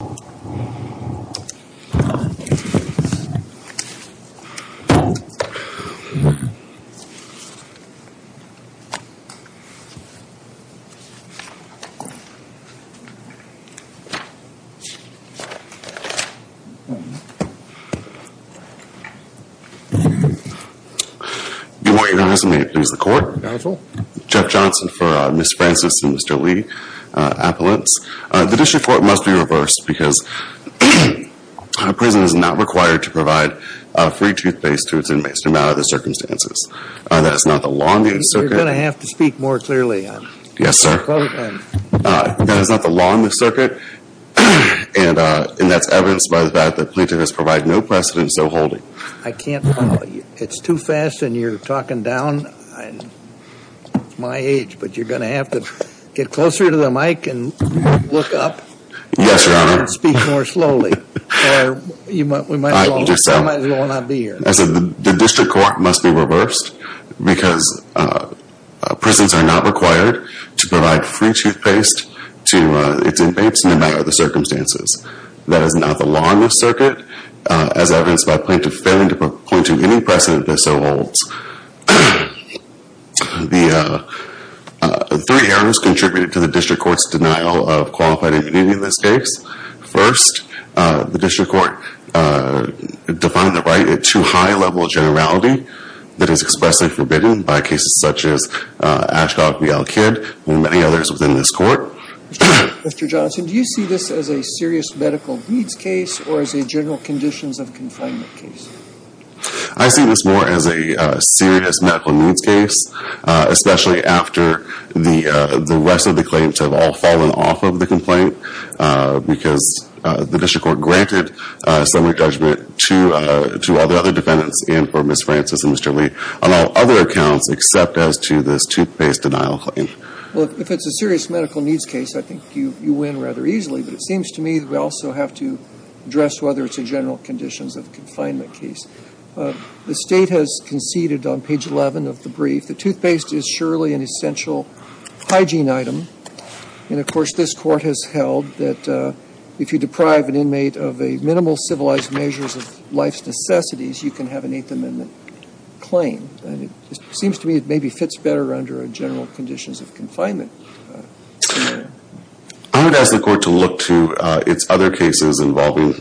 Good morning Your Honor, may it please the Court. Counsel. Jeff Johnson for Ms. Francis and Mr. Lee, Appellants. The District Court must be reversed because a prison is not required to provide free toothpaste to its inmates, no matter the circumstances. That is not the law in this circuit. You're going to have to speak more clearly. Yes, sir. That is not the law in this circuit, and that's evidenced by the fact that plaintiff has provided no precedence, so hold it. I can't follow. It's too fast and you're talking down my age, but you're going to have to get closer to the mic and look up. Yes, Your Honor. And speak more slowly. Or we might as well not be here. I said the District Court must be reversed because prisons are not required to provide free toothpaste to its inmates, no matter the circumstances. That is not the law in this circuit, as evidenced by plaintiff failing to point to any precedent that so holds. The three errors contributed to the District Court's denial of qualified immunity in this case. First, the District Court defined the right at too high a level of generality that is expressly forbidden by cases such as Ashdod v. Al-Kid and many others within this Court. Mr. Johnson, do you see this as a serious medical needs case or as a general conditions of confinement case? I see this more as a serious medical needs case, especially after the rest of the claims have all fallen off of the complaint because the District Court granted assembly judgment to other defendants and for Ms. Francis and Mr. Lee on all other accounts except as to this toothpaste denial claim. Well, if it's a serious medical needs case, I think you win rather easily, but it seems to me we also have to address whether it's a general conditions of confinement case. The State has conceded on page 11 of the brief that toothpaste is surely an essential hygiene item. And, of course, this Court has held that if you deprive an inmate of a minimal civilized measure of life's necessities, you can have an Eighth Amendment claim. And it seems to me it maybe fits better under a general conditions of confinement scenario. I would ask the Court to look to its other cases involving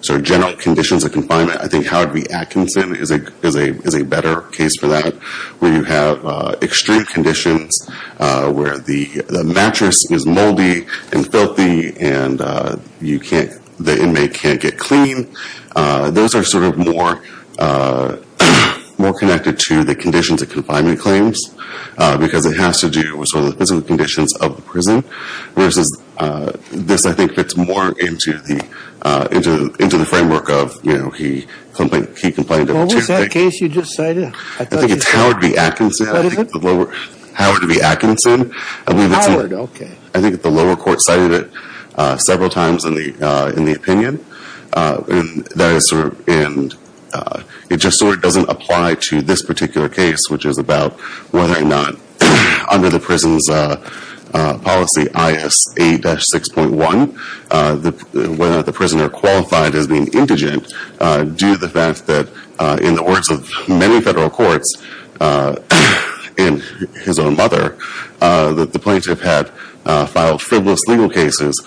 sort of general conditions of confinement. I think Howard v. Atkinson is a better case for that, where you have extreme conditions where the mattress is moldy and filthy and the inmate can't get clean. Those are sort of more connected to the conditions of confinement claims because it has to do with sort of the physical conditions of the prison, versus this, I think, fits more into the framework of, you know, he complained of two things. What was that case you just cited? I think it's Howard v. Atkinson. What is it? Howard v. Atkinson. Howard? Okay. I think the lower court cited it several times in the opinion, and it just sort of doesn't apply to this particular case, which is about whether or not under the prison's policy IAS 8-6.1, whether the prisoner qualified as being indigent due to the fact that in the words of many federal courts, and his own mother, that the plaintiff had filed frivolous legal cases,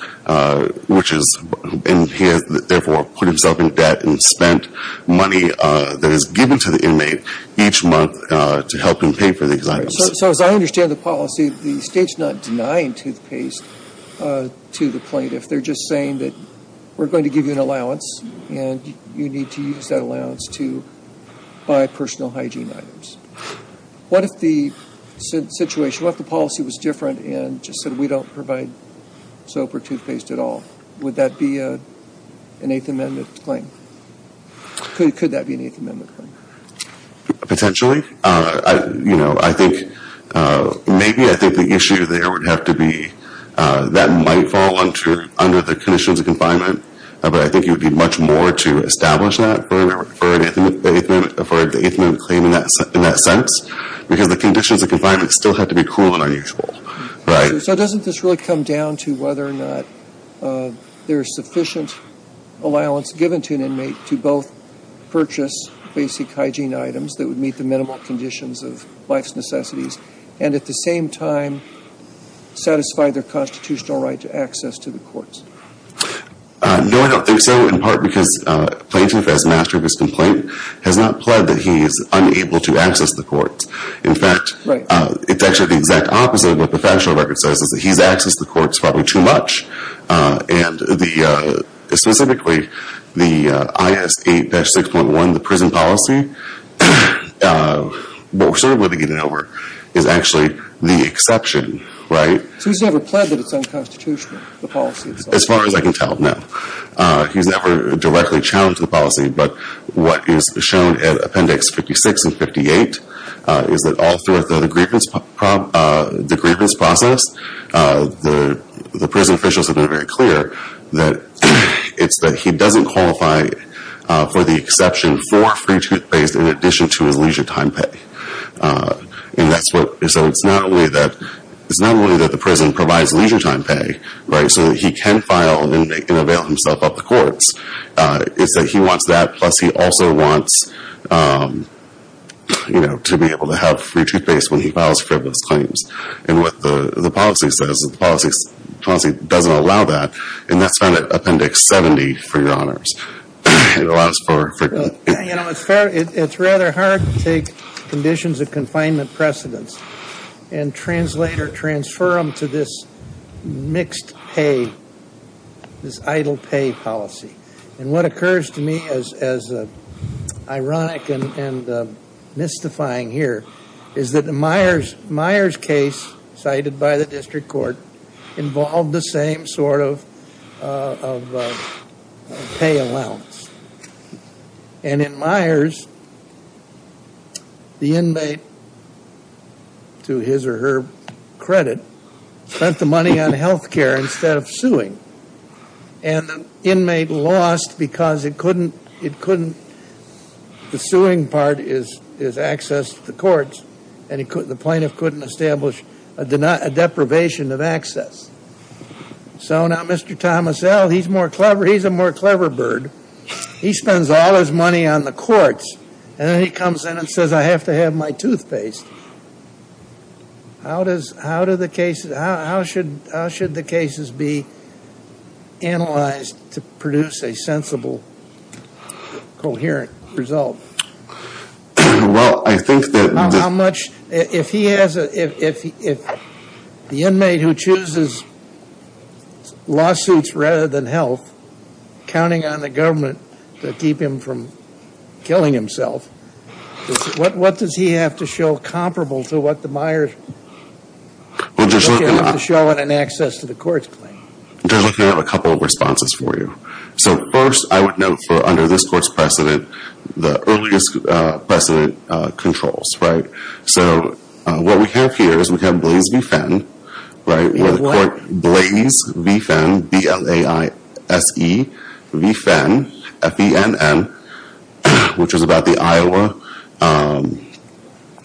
which is, and he has therefore put himself in debt and spent money that is owed to the inmate each month to help him pay for these items. So as I understand the policy, the state's not denying toothpaste to the plaintiff. They're just saying that we're going to give you an allowance, and you need to use that allowance to buy personal hygiene items. What if the situation, what if the policy was different and just said we don't provide soap or toothpaste at all? Would that be an Eighth Amendment claim? Could that be an Eighth Amendment claim? Potentially. You know, I think maybe I think the issue there would have to be that might fall under the conditions of confinement, but I think it would be much more to establish that for an Eighth Amendment claim in that sense, because the conditions of confinement still have to be cruel and unusual, right? So doesn't this really come down to whether or not there is sufficient allowance given to an inmate to both purchase basic hygiene items that would meet the minimal conditions of life's necessities, and at the same time, satisfy their constitutional right to access to the courts? No, I don't think so, in part because the plaintiff as master of his complaint has not pled that he is unable to access the courts. In fact, it's actually the exact opposite of a professional record. What it says is that he's accessed the courts probably too much, and the specifically the I.S. 8-6.1, the prison policy, what we're sort of waiting to get over is actually the exception, right? So he's never pled that it's unconstitutional, the policy itself? As far as I can tell, no. He's never directly challenged the policy, but what is shown at Appendix 56 and 58 is that all throughout the grievance process, the prison officials have been very clear that it's that he doesn't qualify for the exception for free toothpaste in addition to his leisure time pay, and so it's not only that the prison provides leisure time pay, right? So that he can file an inmate and avail himself of the courts, it's that he wants that plus he also wants, you know, to be able to have free toothpaste when he files frivolous claims. And what the policy says, the policy doesn't allow that, and that's found at Appendix 70, for your honors. It allows for... Yeah, you know, it's rather hard to take conditions of confinement precedence and translate or transfer them to this mixed pay, this idle pay policy. And what occurs to me as ironic and mystifying here is that the Myers case cited by the district court involved the same sort of pay allowance. And in Myers, the inmate, to his or her credit, spent the money on health care instead of lost because it couldn't... The suing part is access to the courts, and the plaintiff couldn't establish a deprivation of access. So now Mr. Thomas L., he's more clever. He's a more clever bird. He spends all his money on the courts, and then he comes in and says, I have to have my toothpaste. How does, how do the cases, how should the cases be analyzed to produce a sensible, coherent result? Well, I think that... How much... If he has a, if the inmate who chooses lawsuits rather than health, counting on the government to keep him from killing himself, what does he have to show comparable to what the Myers have to show in an access to the courts claim? Just looking at a couple of responses for you. So first, I would note for under this court's precedent, the earliest precedent controls, right? So what we have here is we have Blaise V. Fenn, right, where the court, Blaise, B-L-A-I-S-E, V-F-E-N-N, F-E-N-N, which was about the Iowa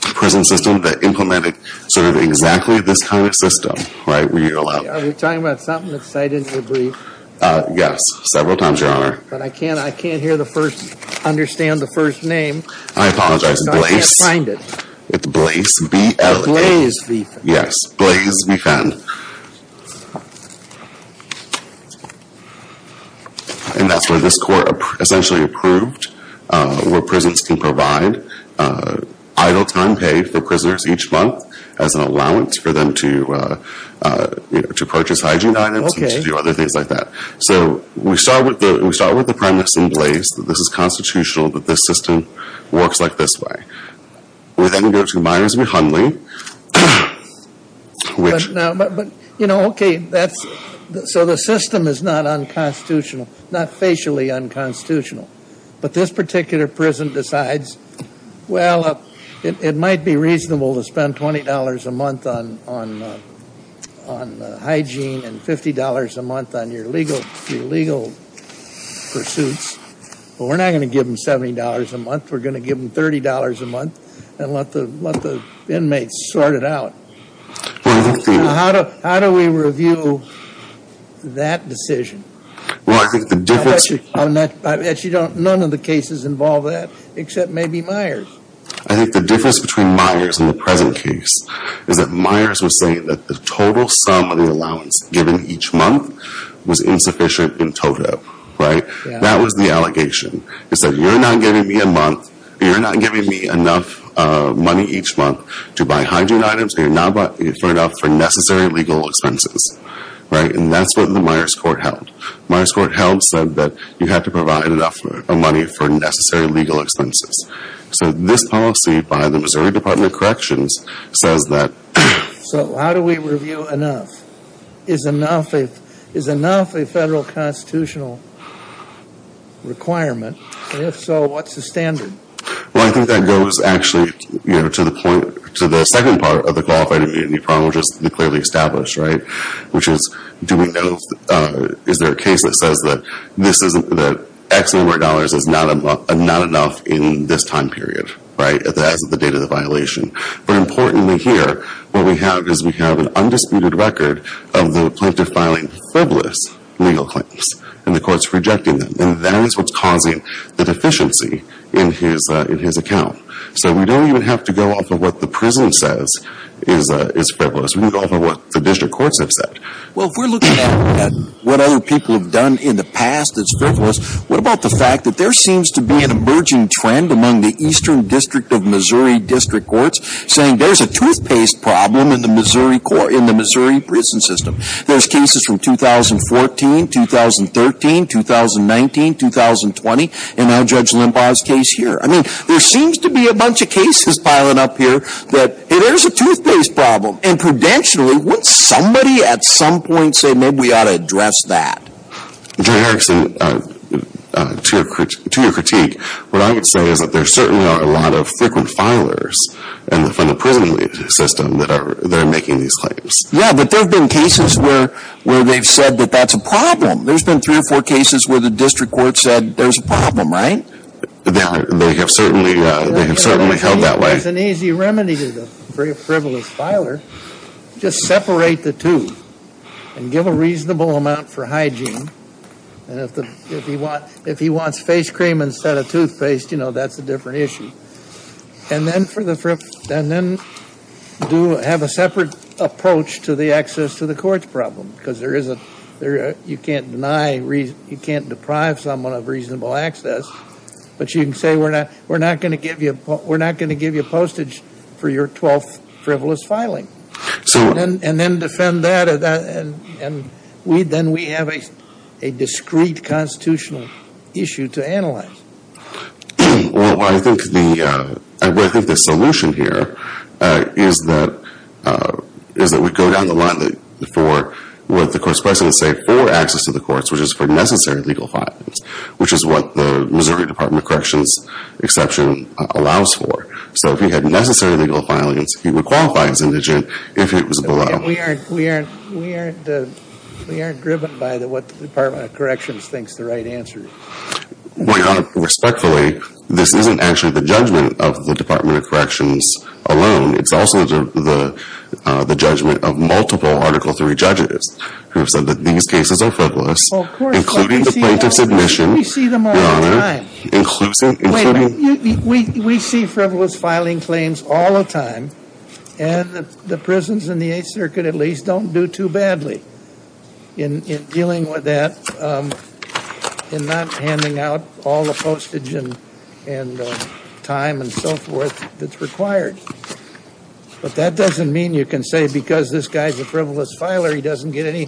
prison system that implemented sort of exactly this kind of system, right, where you're allowed... Are we talking about something that's cited in the brief? Yes, several times, Your Honor. But I can't, I can't hear the first, understand the first name. I apologize. Blaise... So I can't find it. It's Blaise, B-L-A-I-S-E. Blaise V. Fenn. Yes, Blaise V. Fenn. And that's where this court essentially approved where prisons can provide idle time paid for prisoners each month as an allowance for them to purchase hygiene items and to do other things like that. Okay. So we start with the premise in Blaise that this is constitutional, that this system works like this way. With any direction of bias, it would be humbling. But you know, okay, that's, so the system is not unconstitutional, not facially unconstitutional. But this particular prison decides, well, it might be reasonable to spend $20 a month on hygiene and $50 a month on your legal pursuits, but we're not going to give them $70 a month. We're going to give them $30 a month and let the inmates sort it out. How do we review that decision? Well, I think the difference... I bet you none of the cases involve that, except maybe Myers. I think the difference between Myers and the present case is that Myers was saying that the total sum of the allowance given each month was insufficient in total, right? That was the allegation. He said, you're not giving me a month, you're not giving me enough money each month to buy hygiene items and you're not providing enough for necessary legal expenses, right? And that's what the Myers court held. Myers court held, said that you have to provide enough money for necessary legal expenses. So this policy by the Missouri Department of Corrections says that... So how do we review enough? Is enough a federal constitutional requirement? And if so, what's the standard? Well, I think that goes actually to the point, to the second part of the qualified immunity problem, which is to be clearly established, right? Which is, do we know, is there a case that says that X number of dollars is not enough in this time period, right, as of the date of the violation? But importantly here, what we have is we have an undisputed record of the plaintiff filing frivolous legal claims and the courts rejecting them. And that is what's causing the deficiency in his account. So we don't even have to go off of what the prison says is frivolous. We can go off of what the district courts have said. Well, if we're looking at what other people have done in the past that's frivolous, what about the fact that there seems to be an emerging trend among the Eastern District of Missouri District Courts saying there's a toothpaste problem in the Missouri prison system. There's cases from 2014, 2013, 2019, 2020, and now Judge Limbaugh's case here. I mean, there seems to be a bunch of cases piling up here that, hey, there's a toothpaste problem. And prudentially, wouldn't somebody at some point say maybe we ought to address that? Jerry Erickson, to your critique, what I would say is that there certainly are a lot of frequent filers from the prison system that are making these claims. Yeah, but there have been cases where they've said that that's a problem. There's been three or four cases where the district court said there's a problem, right? They have certainly held that way. There's an easy remedy to the frivolous filer. Just separate the two and give a reasonable amount for hygiene. If he wants face cream instead of toothpaste, you know, that's a different issue. And then have a separate approach to the access to the courts problem because you can't deprive someone of reasonable access, but you can say we're not going to give you postage for your twelfth frivolous filing. And then defend that, and then we have a discreet constitutional issue to analyze. Well, I think the solution here is that we go down the line for what the court's precedent say for access to the courts, which is for necessary legal filings, which is what the Missouri Department of Corrections exception allows for. So if he had necessary legal filings, he would qualify as indigent if it was below. We aren't driven by what the Department of Corrections thinks the right answer is. Well, Your Honor, respectfully, this isn't actually the judgment of the Department of Corrections alone. It's also the judgment of multiple Article III judges who have said that these cases are frivolous, including the plaintiff's admission, Your Honor. Wait a minute. We see frivolous filing claims all the time, and the prisons in the Eighth Circuit at least don't do too badly in dealing with that, in not handing out all the postage and time and so forth that's required. But that doesn't mean you can say because this guy's a frivolous filer, he doesn't get any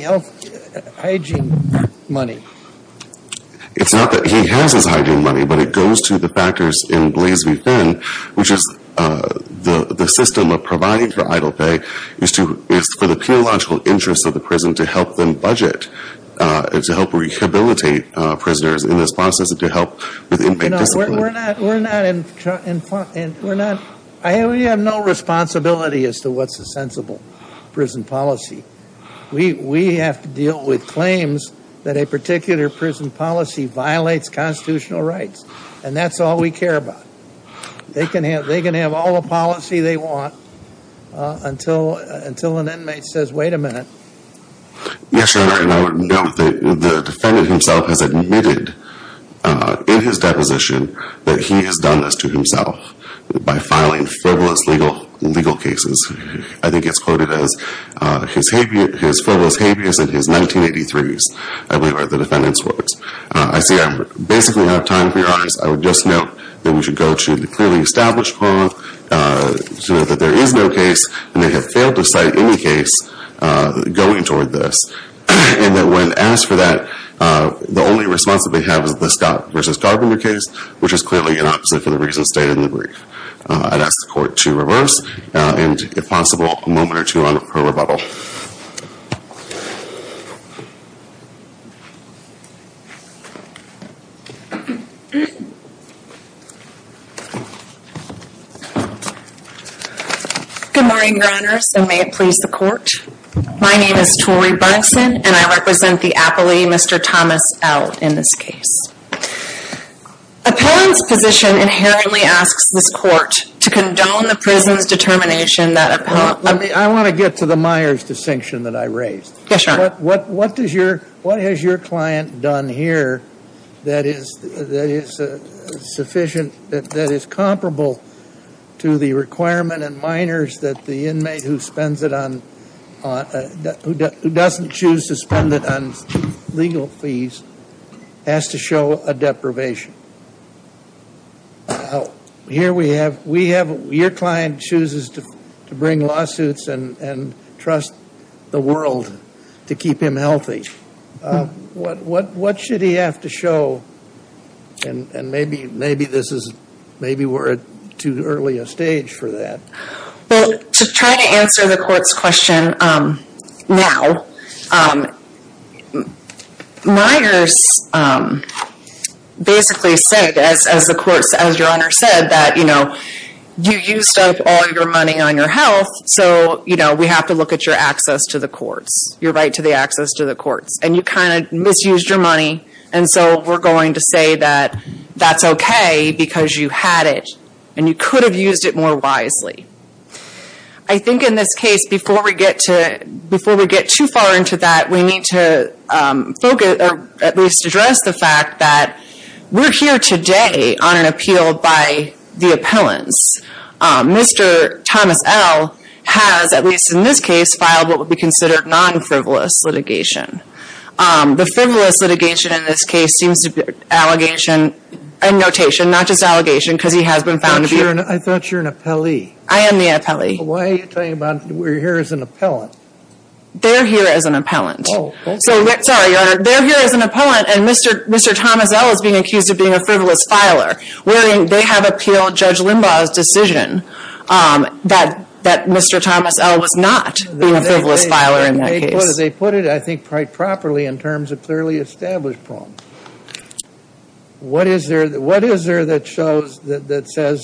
health hygiene money. It's not that he has his hygiene money, but it goes to the factors in Blase v. Finn, which is the system of providing for idle pay is for the theological interests of the prison to help them budget, to help rehabilitate prisoners in the process, and to help with inmate discipline. You know, we're not – we have no responsibility as to what's a sensible prison policy. We have to deal with claims that a particular prison policy violates constitutional rights, and that's all we care about. They can have all the policy they want until an inmate says, wait a minute. Yes, Your Honor, and I would note that the defendant himself has admitted in his deposition that he has done this to himself by filing frivolous legal cases. I think it's quoted as his frivolous habeas in his 1983s, I believe are the defendant's words. I see I basically don't have time for Your Honors. I would just note that we should go to the clearly established parlor to note that there is no case, and they have failed to cite any case going toward this, and that when asked for that, the only response that they have is the Scott v. Garber case, which is clearly an opposite for the reasons stated in the brief. I'd ask the Court to reverse, and if possible, a moment or two on her rebuttal. Good morning, Your Honors, and may it please the Court. My name is Tori Brunson, and I represent the appellee Mr. Thomas L. in this case. Appellant's position inherently asks this Court to condone the prison's determination that appellant... Let me, I want to get to the Myers distinction that I raised. Yes, Your Honor. What does your, what has your client done here that is, that is sufficient, that is comparable to the requirement in minors that the inmate who spends it on, who doesn't choose to spend it on legal fees, has to show a deprivation? Here we have, we have, your client chooses to bring lawsuits and, and trust the world to keep him healthy. What, what should he have to show? And, and maybe, maybe this is, maybe we're at too early a stage for that. Well, to try to answer the Court's question, um, now, um, Myers, um, basically said, as, as the Court, as Your Honor said, that, you know, you used up all your money on your health, so, you know, we have to look at your access to the courts, your right to the access to the courts, and you kind of misused your money, and so we're going to say that that's okay because you had it, and you could have used it more wisely. I think in this case, before we get to, before we get too far into that, we need to, um, focus, or at least address the fact that we're here today on an appeal by the appellants. Um, Mr. Thomas L. has, at least in this case, filed what would be considered non-frivolous litigation. Um, the frivolous litigation in this case seems to be an allegation, a notation, not just an allegation, because he has been found to be... I thought you were an, I thought you were an appellee. I am the appellee. Why are you talking about, we're here as an appellant? They're here as an appellant. Oh, okay. So, sorry, Your Honor, they're here as an appellant, and Mr., Mr. Thomas L. is being accused of being a frivolous filer, wherein they have appealed Judge Limbaugh's decision, um, that, that Mr. Thomas L. was not being a frivolous filer in that case. What do they put it, I think, quite properly in terms of clearly established problems? What is there, what is there that shows, that, that says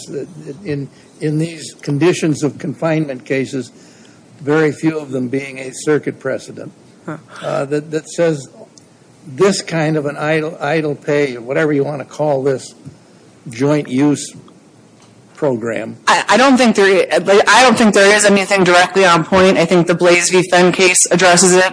in, in these conditions of confinement cases, very few of them being a circuit precedent, uh, that, that says this kind of an idle, idle pay, or whatever you want to call this joint use program. I, I don't think there, I don't think there is anything directly on point. I think the Blaise v. Fenn case addresses it,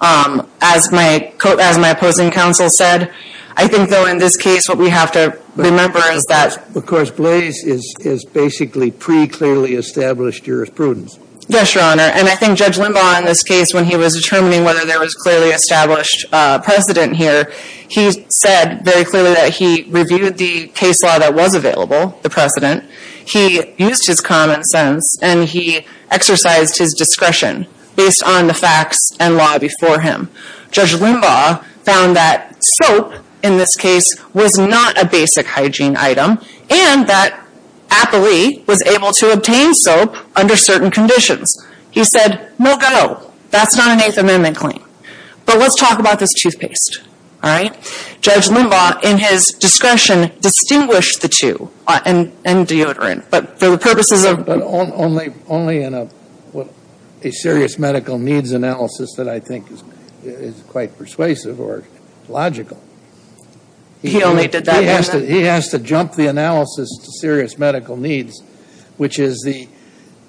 um, as my, as my opposing counsel said. I think, though, in this case, what we have to remember is that... Because Blaise is, is basically pre-clearly established jurisprudence. Yes, Your Honor, and I think Judge Limbaugh, in this case, when he was determining whether there was clearly established, uh, precedent here, he said very clearly that he reviewed the case law that was available, the precedent. He used his common sense, and he exercised his discretion based on the facts and law before him. Judge Limbaugh found that soap, in this case, was not a basic hygiene item, and that Applee was able to obtain soap under certain conditions. He said, no go, that's not an Eighth Amendment claim. But let's talk about this toothpaste, all right? Judge Limbaugh, in his discretion, distinguished the two, uh, and, and deodorant. But for the purposes of... But only, only in a, a serious medical needs analysis that I think is, is quite persuasive or logical. He only did that one... He has to, he has to jump the analysis to serious medical needs, which is the,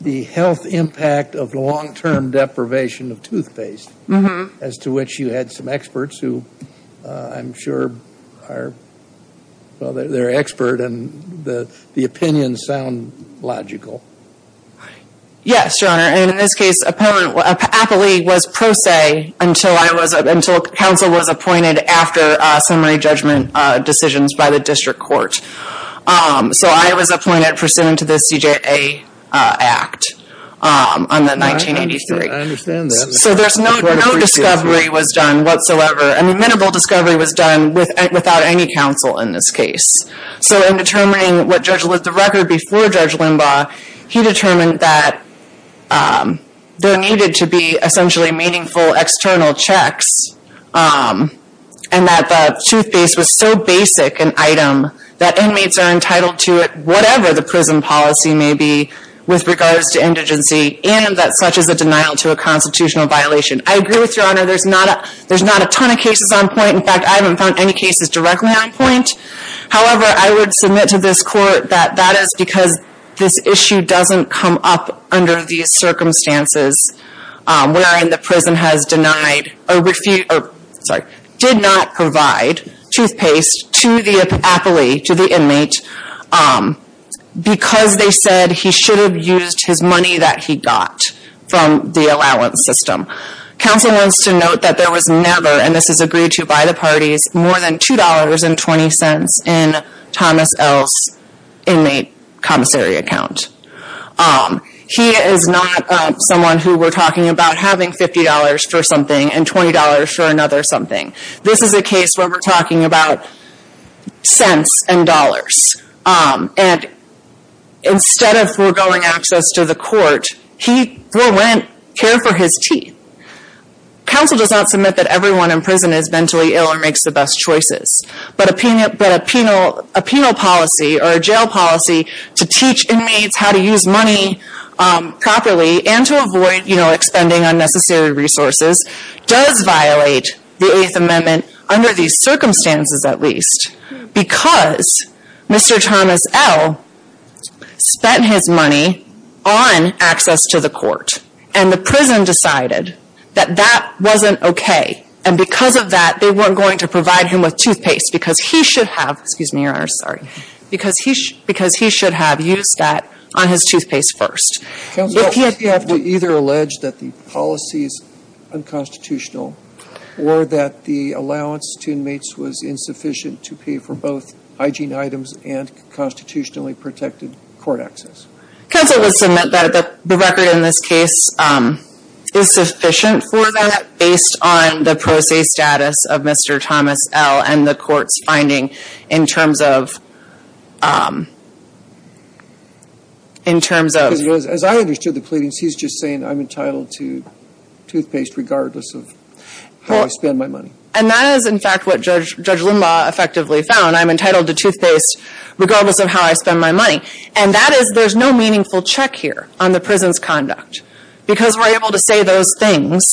the health impact of the long-term deprivation of toothpaste. Mm-hmm. As to which you had some experts who, uh, I'm sure are, well, they're, they're expert, and the, the opinions sound logical. Yes, Your Honor. And in this case, Applee was pro se until I was, until counsel was appointed after, uh, summary judgment, uh, decisions by the district court. Um, so I was appointed pursuant to the CJA, uh, Act, um, on the 1983. I understand that. So there's no, no discovery was done whatsoever. I mean, minimal discovery was done with, without any counsel in this case. So in determining what Judge, the record before Judge Limbaugh, he determined that, um, there needed to be essentially meaningful external checks, um, and that the toothpaste was so basic an item that inmates are entitled to it whatever the prison policy may be with regards to indigency and that such is a denial to a constitutional violation. I agree with Your Honor. There's not a, there's not a ton of cases on point. In fact, I haven't found any cases directly on point. However, I would submit to this court that that is because this issue doesn't come up under these circumstances, um, wherein the prison has denied a refute, or, sorry, did not provide toothpaste to the, Applee, to the inmate, um, because they said he should have used his money that he got from the allowance system. Counsel wants to note that there was never, and this is agreed to by the parties, more than $2.20 in Thomas L.'s inmate commissary account. Um, he is not, um, someone who we're talking about having $50 for something and $20 for another something. This is a case where we're talking about cents and dollars. Um, and instead of foregoing access to the court, he will care for his teeth. Counsel does not submit that everyone in prison is mentally ill or makes the best choices. But a penal, but a penal, a penal policy or a jail policy to teach inmates how to use money, um, properly and to avoid, you know, expending unnecessary resources does violate the Eighth Amendment under these circumstances at least because Mr. Thomas L. spent his money on access to the court and the prison decided that that wasn't okay. And because of that, they weren't going to provide him with toothpaste because he should have, excuse me, Your Honor, sorry, because he should have used that on his toothpaste first. Counsel, you have to either allege that the policy is unconstitutional or that the allowance to inmates was insufficient to pay for both hygiene items and constitutionally protected court access. Counsel will submit that the record in this case, um, is sufficient for that based on the pro se status of Mr. Thomas L. and the court's finding in terms of, um, in terms of... As I understood the pleadings, he's just saying I'm entitled to toothpaste regardless of how I spend my money. And that is, in fact, what Judge Limbaugh effectively found. I'm entitled to toothpaste regardless of how I spend my money. And that is there's no meaningful check here on the prison's conduct. Because we're able to say those things,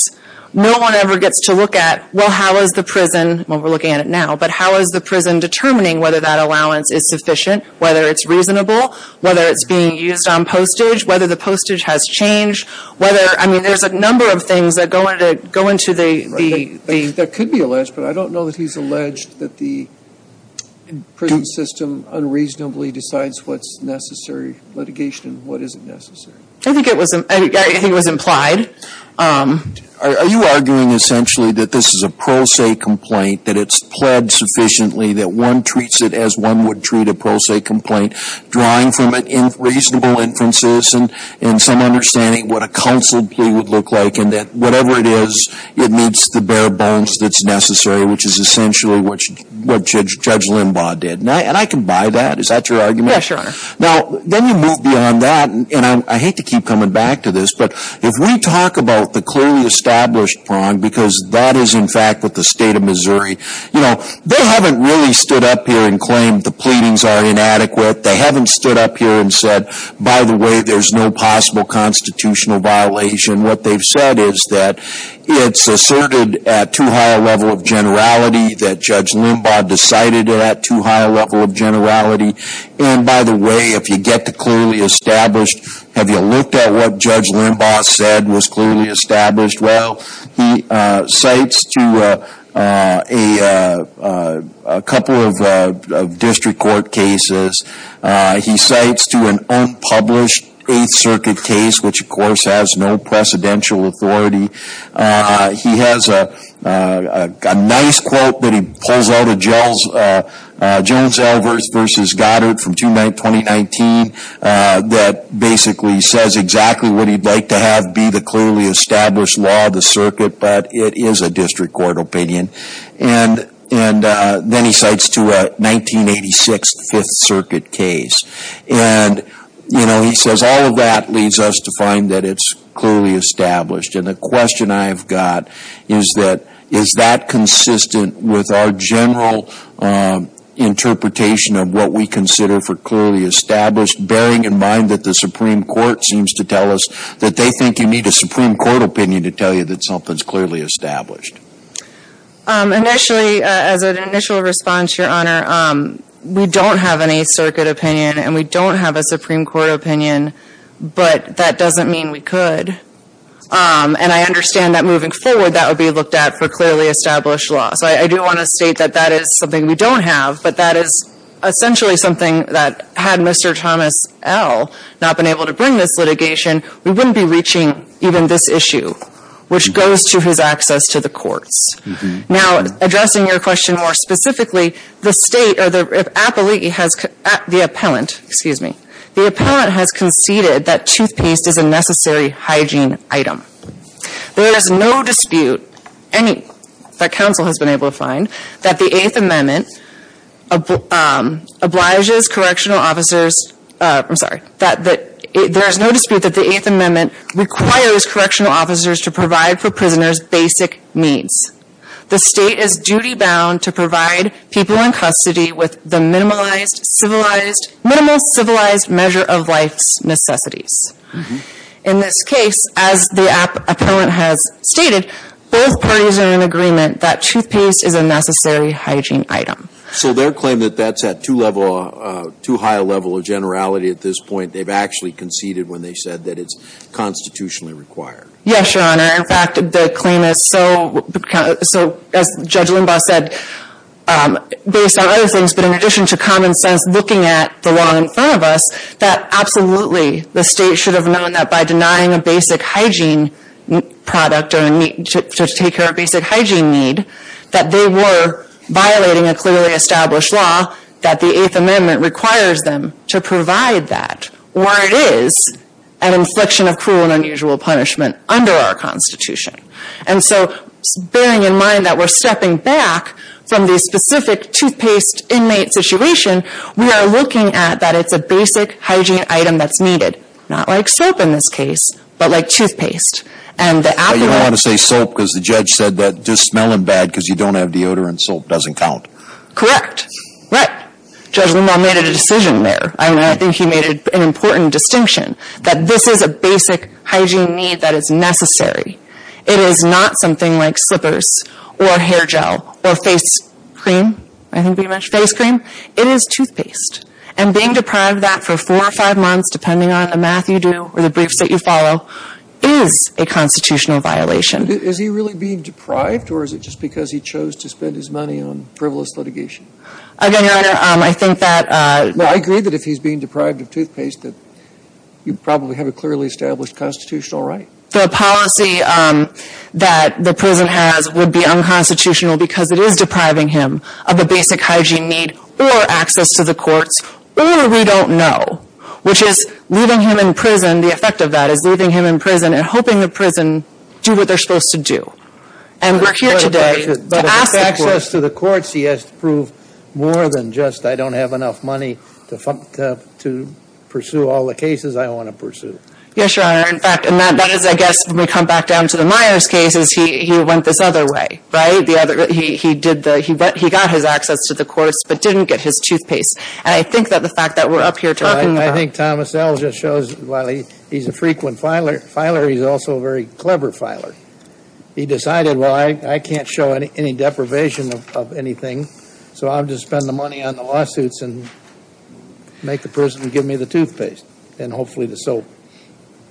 no one ever gets to look at, well, how is the prison, well, we're looking at it now, but how is the prison determining whether that allowance is sufficient, whether it's reasonable, whether it's being used on postage, whether the postage has changed, whether, I mean, there's a number of things that go into the... That could be alleged, but I don't know that he's alleged that the prison system unreasonably decides what's necessary litigation and what isn't necessary. I think it was implied. Are you arguing essentially that this is a pro se complaint, that it's pled sufficiently, that one treats it as one would treat a pro se complaint, drawing from reasonable inferences and some understanding what a counsel plea would look like, and that whatever it is, it meets the bare bones that's necessary, which is essentially what Judge Limbaugh did. And I can buy that. Is that your argument? Yes, Your Honor. Now, then you move beyond that, and I hate to keep coming back to this, but if we talk about the clearly established prong, because that is in fact what the State of Missouri... You know, they haven't really stood up here and claimed the pleadings are inadequate. They haven't stood up here and said, by the way, there's no possible constitutional violation. What they've said is that it's asserted at too high a level of generality, that Judge Limbaugh decided it at too high a level of generality. And by the way, if you get the clearly established, have you looked at what Judge Limbaugh said was clearly established? Well, he cites to a couple of district court cases. He cites to an unpublished Eighth Circuit case, which, of course, has no precedential authority. He has a nice quote that he pulls out of Jones versus Goddard from 2019 that basically says exactly what he'd like to have be the clearly established law of the circuit, but it is a district court opinion. And then he cites to a 1986 Fifth Circuit case. And, you know, he says all of that leads us to find that it's clearly established. And the question I've got is that, is that consistent with our general interpretation of what we consider for clearly established, bearing in mind that the Supreme Court seems to tell us that they think you need a Supreme Court opinion to tell you that something's clearly established? Initially, as an initial response, Your Honor, we don't have an Eighth Circuit opinion, and we don't have a Supreme Court opinion, but that doesn't mean we could. And I understand that moving forward, that would be looked at for clearly established law. So I do want to state that that is something we don't have, but that is essentially something that had Mr. Thomas L. not been able to bring this litigation, we wouldn't be reaching even this issue, which goes to his access to the courts. Now, addressing your question more specifically, the State or the appellee has the appellant, excuse me, the appellant has conceded that toothpaste is a necessary hygiene item. There is no dispute, any, that counsel has been able to find, that the Eighth Amendment obliges correctional officers, I'm sorry, that there is no dispute that the Eighth Amendment requires correctional officers to provide for prisoners basic needs. The State is duty-bound to provide people in custody with the minimalized, civilized, minimal civilized measure of life's necessities. In this case, as the appellant has stated, both parties are in agreement that toothpaste is a necessary hygiene item. So their claim that that's at too high a level of generality at this point, they've actually conceded when they said that it's constitutionally required. Yes, Your Honor. In fact, the claim is so, as Judge Limbaugh said, based on other things, but in addition to common sense looking at the law in front of us, that absolutely the State should have known that by denying a basic hygiene product to take care of basic hygiene need, that they were violating a clearly established law, that the Eighth Amendment requires them to provide that, where it is an infliction of cruel and unusual punishment under our Constitution. And so bearing in mind that we're stepping back from the specific toothpaste inmate situation, we are looking at that it's a basic hygiene item that's needed. Not like soap in this case, but like toothpaste. And the appellant... But you don't want to say soap because the judge said that just smelling bad because you don't have deodorant soap doesn't count. Correct. But Judge Limbaugh made a decision there. I think he made an important distinction that this is a basic hygiene need that is necessary. It is not something like slippers or hair gel or face cream. I think we mentioned face cream. It is toothpaste. And being deprived of that for four or five months, depending on the math you do or the briefs that you follow, is a constitutional violation. Is he really being deprived or is it just because he chose to spend his money on frivolous litigation? Again, Your Honor, I think that... Well, I agree that if he's being deprived of toothpaste, that you probably have a clearly established constitutional right. The policy that the prison has would be unconstitutional because it is depriving him of a basic hygiene need or access to the courts. Really, we don't know, which is leaving him in prison. The effect of that is leaving him in prison and hoping the prison do what they're supposed to do. And we're here today to ask the courts... But if it's access to the courts, he has to prove more than just, I don't have enough money to pursue all the cases I want to pursue. Yes, Your Honor. In fact, that is, I guess, when we come back down to the Myers cases, he went this other way, right? He got his access to the courts but didn't get his toothpaste. And I think that the fact that we're up here talking about... I think Thomas L. just shows, while he's a frequent filer, he's also a very clever filer. He decided, well, I can't show any deprivation of anything, so I'll just spend the money on the lawsuits and make the prison give me the toothpaste and hopefully the soap.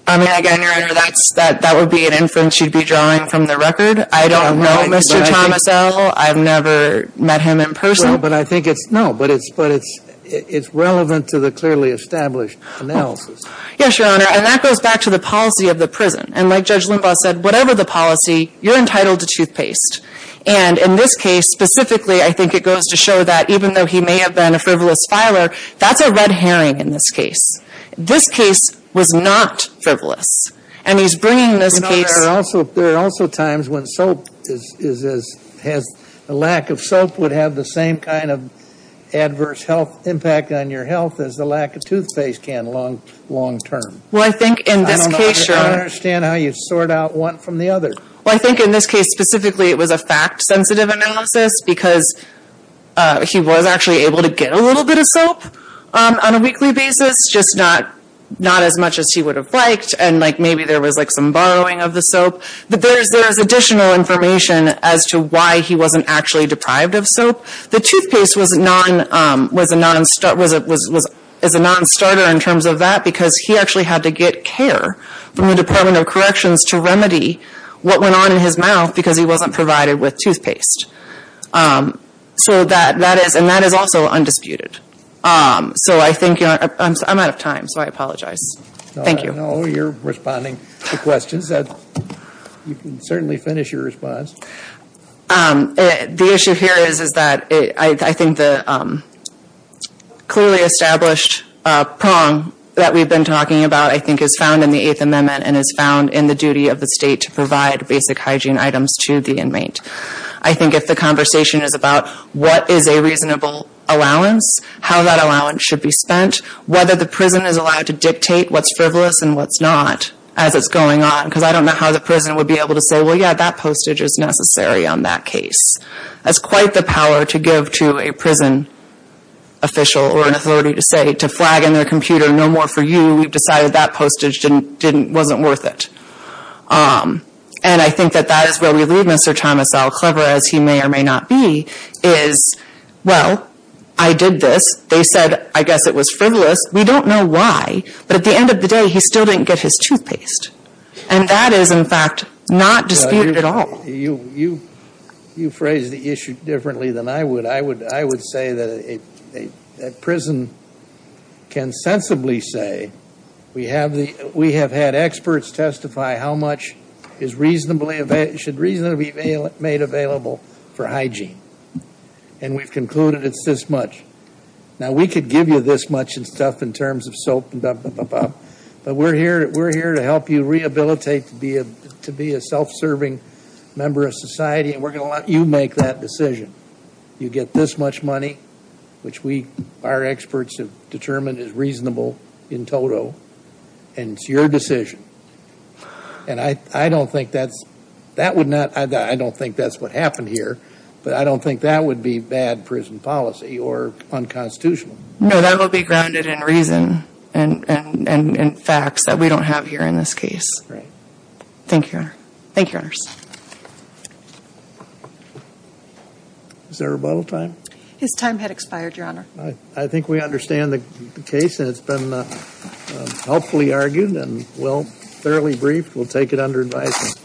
I mean, again, Your Honor, that would be an inference you'd be drawing from the record. I don't know Mr. Thomas L. I've never met him in person. Well, but I think it's... No, but it's relevant to the clearly established analysis. Yes, Your Honor. And that goes back to the policy of the prison. And like Judge Limbaugh said, whatever the policy, you're entitled to toothpaste. And in this case, specifically, I think it goes to show that, even though he may have been a frivolous filer, that's a red herring in this case. This case was not frivolous. And he's bringing this case... There are also times when soap is as... The lack of soap would have the same kind of adverse health impact on your health as the lack of toothpaste can long-term. Well, I think in this case... I don't understand how you sort out one from the other. Well, I think in this case, specifically, it was a fact-sensitive analysis because he was actually able to get a little bit of soap on a weekly basis, just not as much as he would have liked. And maybe there was some borrowing of the soap. But there's additional information as to why he wasn't actually deprived of soap. The toothpaste was a non-starter in terms of that because he actually had to get care from the Department of Corrections to remedy what went on in his mouth because he wasn't provided with toothpaste. And that is also undisputed. So I think... I'm out of time, so I apologize. Thank you. I know you're responding to questions. You can certainly finish your response. The issue here is that I think the clearly established prong that we've been talking about, I think, is found in the Eighth Amendment and is found in the duty of the state to provide basic hygiene items to the inmate. I think if the conversation is about what is a reasonable allowance, how that allowance should be spent, whether the prison is allowed to dictate what's frivolous and what's not as it's going on, because I don't know how the prison would be able to say, well, yeah, that postage is necessary on that case. That's quite the power to give to a prison official or an authority to say, to flag in their computer, no more for you, we've decided that postage wasn't worth it. And I think that that is where we leave Mr. Thomas L. Clever, as he may or may not be, is, well, I did this. They said, I guess it was frivolous. We don't know why, but at the end of the day, he still didn't get his toothpaste. And that is, in fact, not disputed at all. You phrase the issue differently than I would. I would say that a prison can sensibly say, we have had experts testify how much should reasonably be made available for hygiene. And we've concluded it's this much. Now, we could give you this much and stuff in terms of soap, but we're here to help you rehabilitate to be a self-serving member of society, and we're going to let you make that decision. You get this much money, which our experts have determined is reasonable in total, and it's your decision. And I don't think that's what happened here, but I don't think that would be bad prison policy or unconstitutional. No, that would be grounded in reason and facts that we don't have here in this case. Thank you, Your Honor. Thank you, Your Honors. Is there a rebuttal time? His time had expired, Your Honor. I think we understand the case, and it's been helpfully argued and, well, fairly brief. We'll take it under advisement.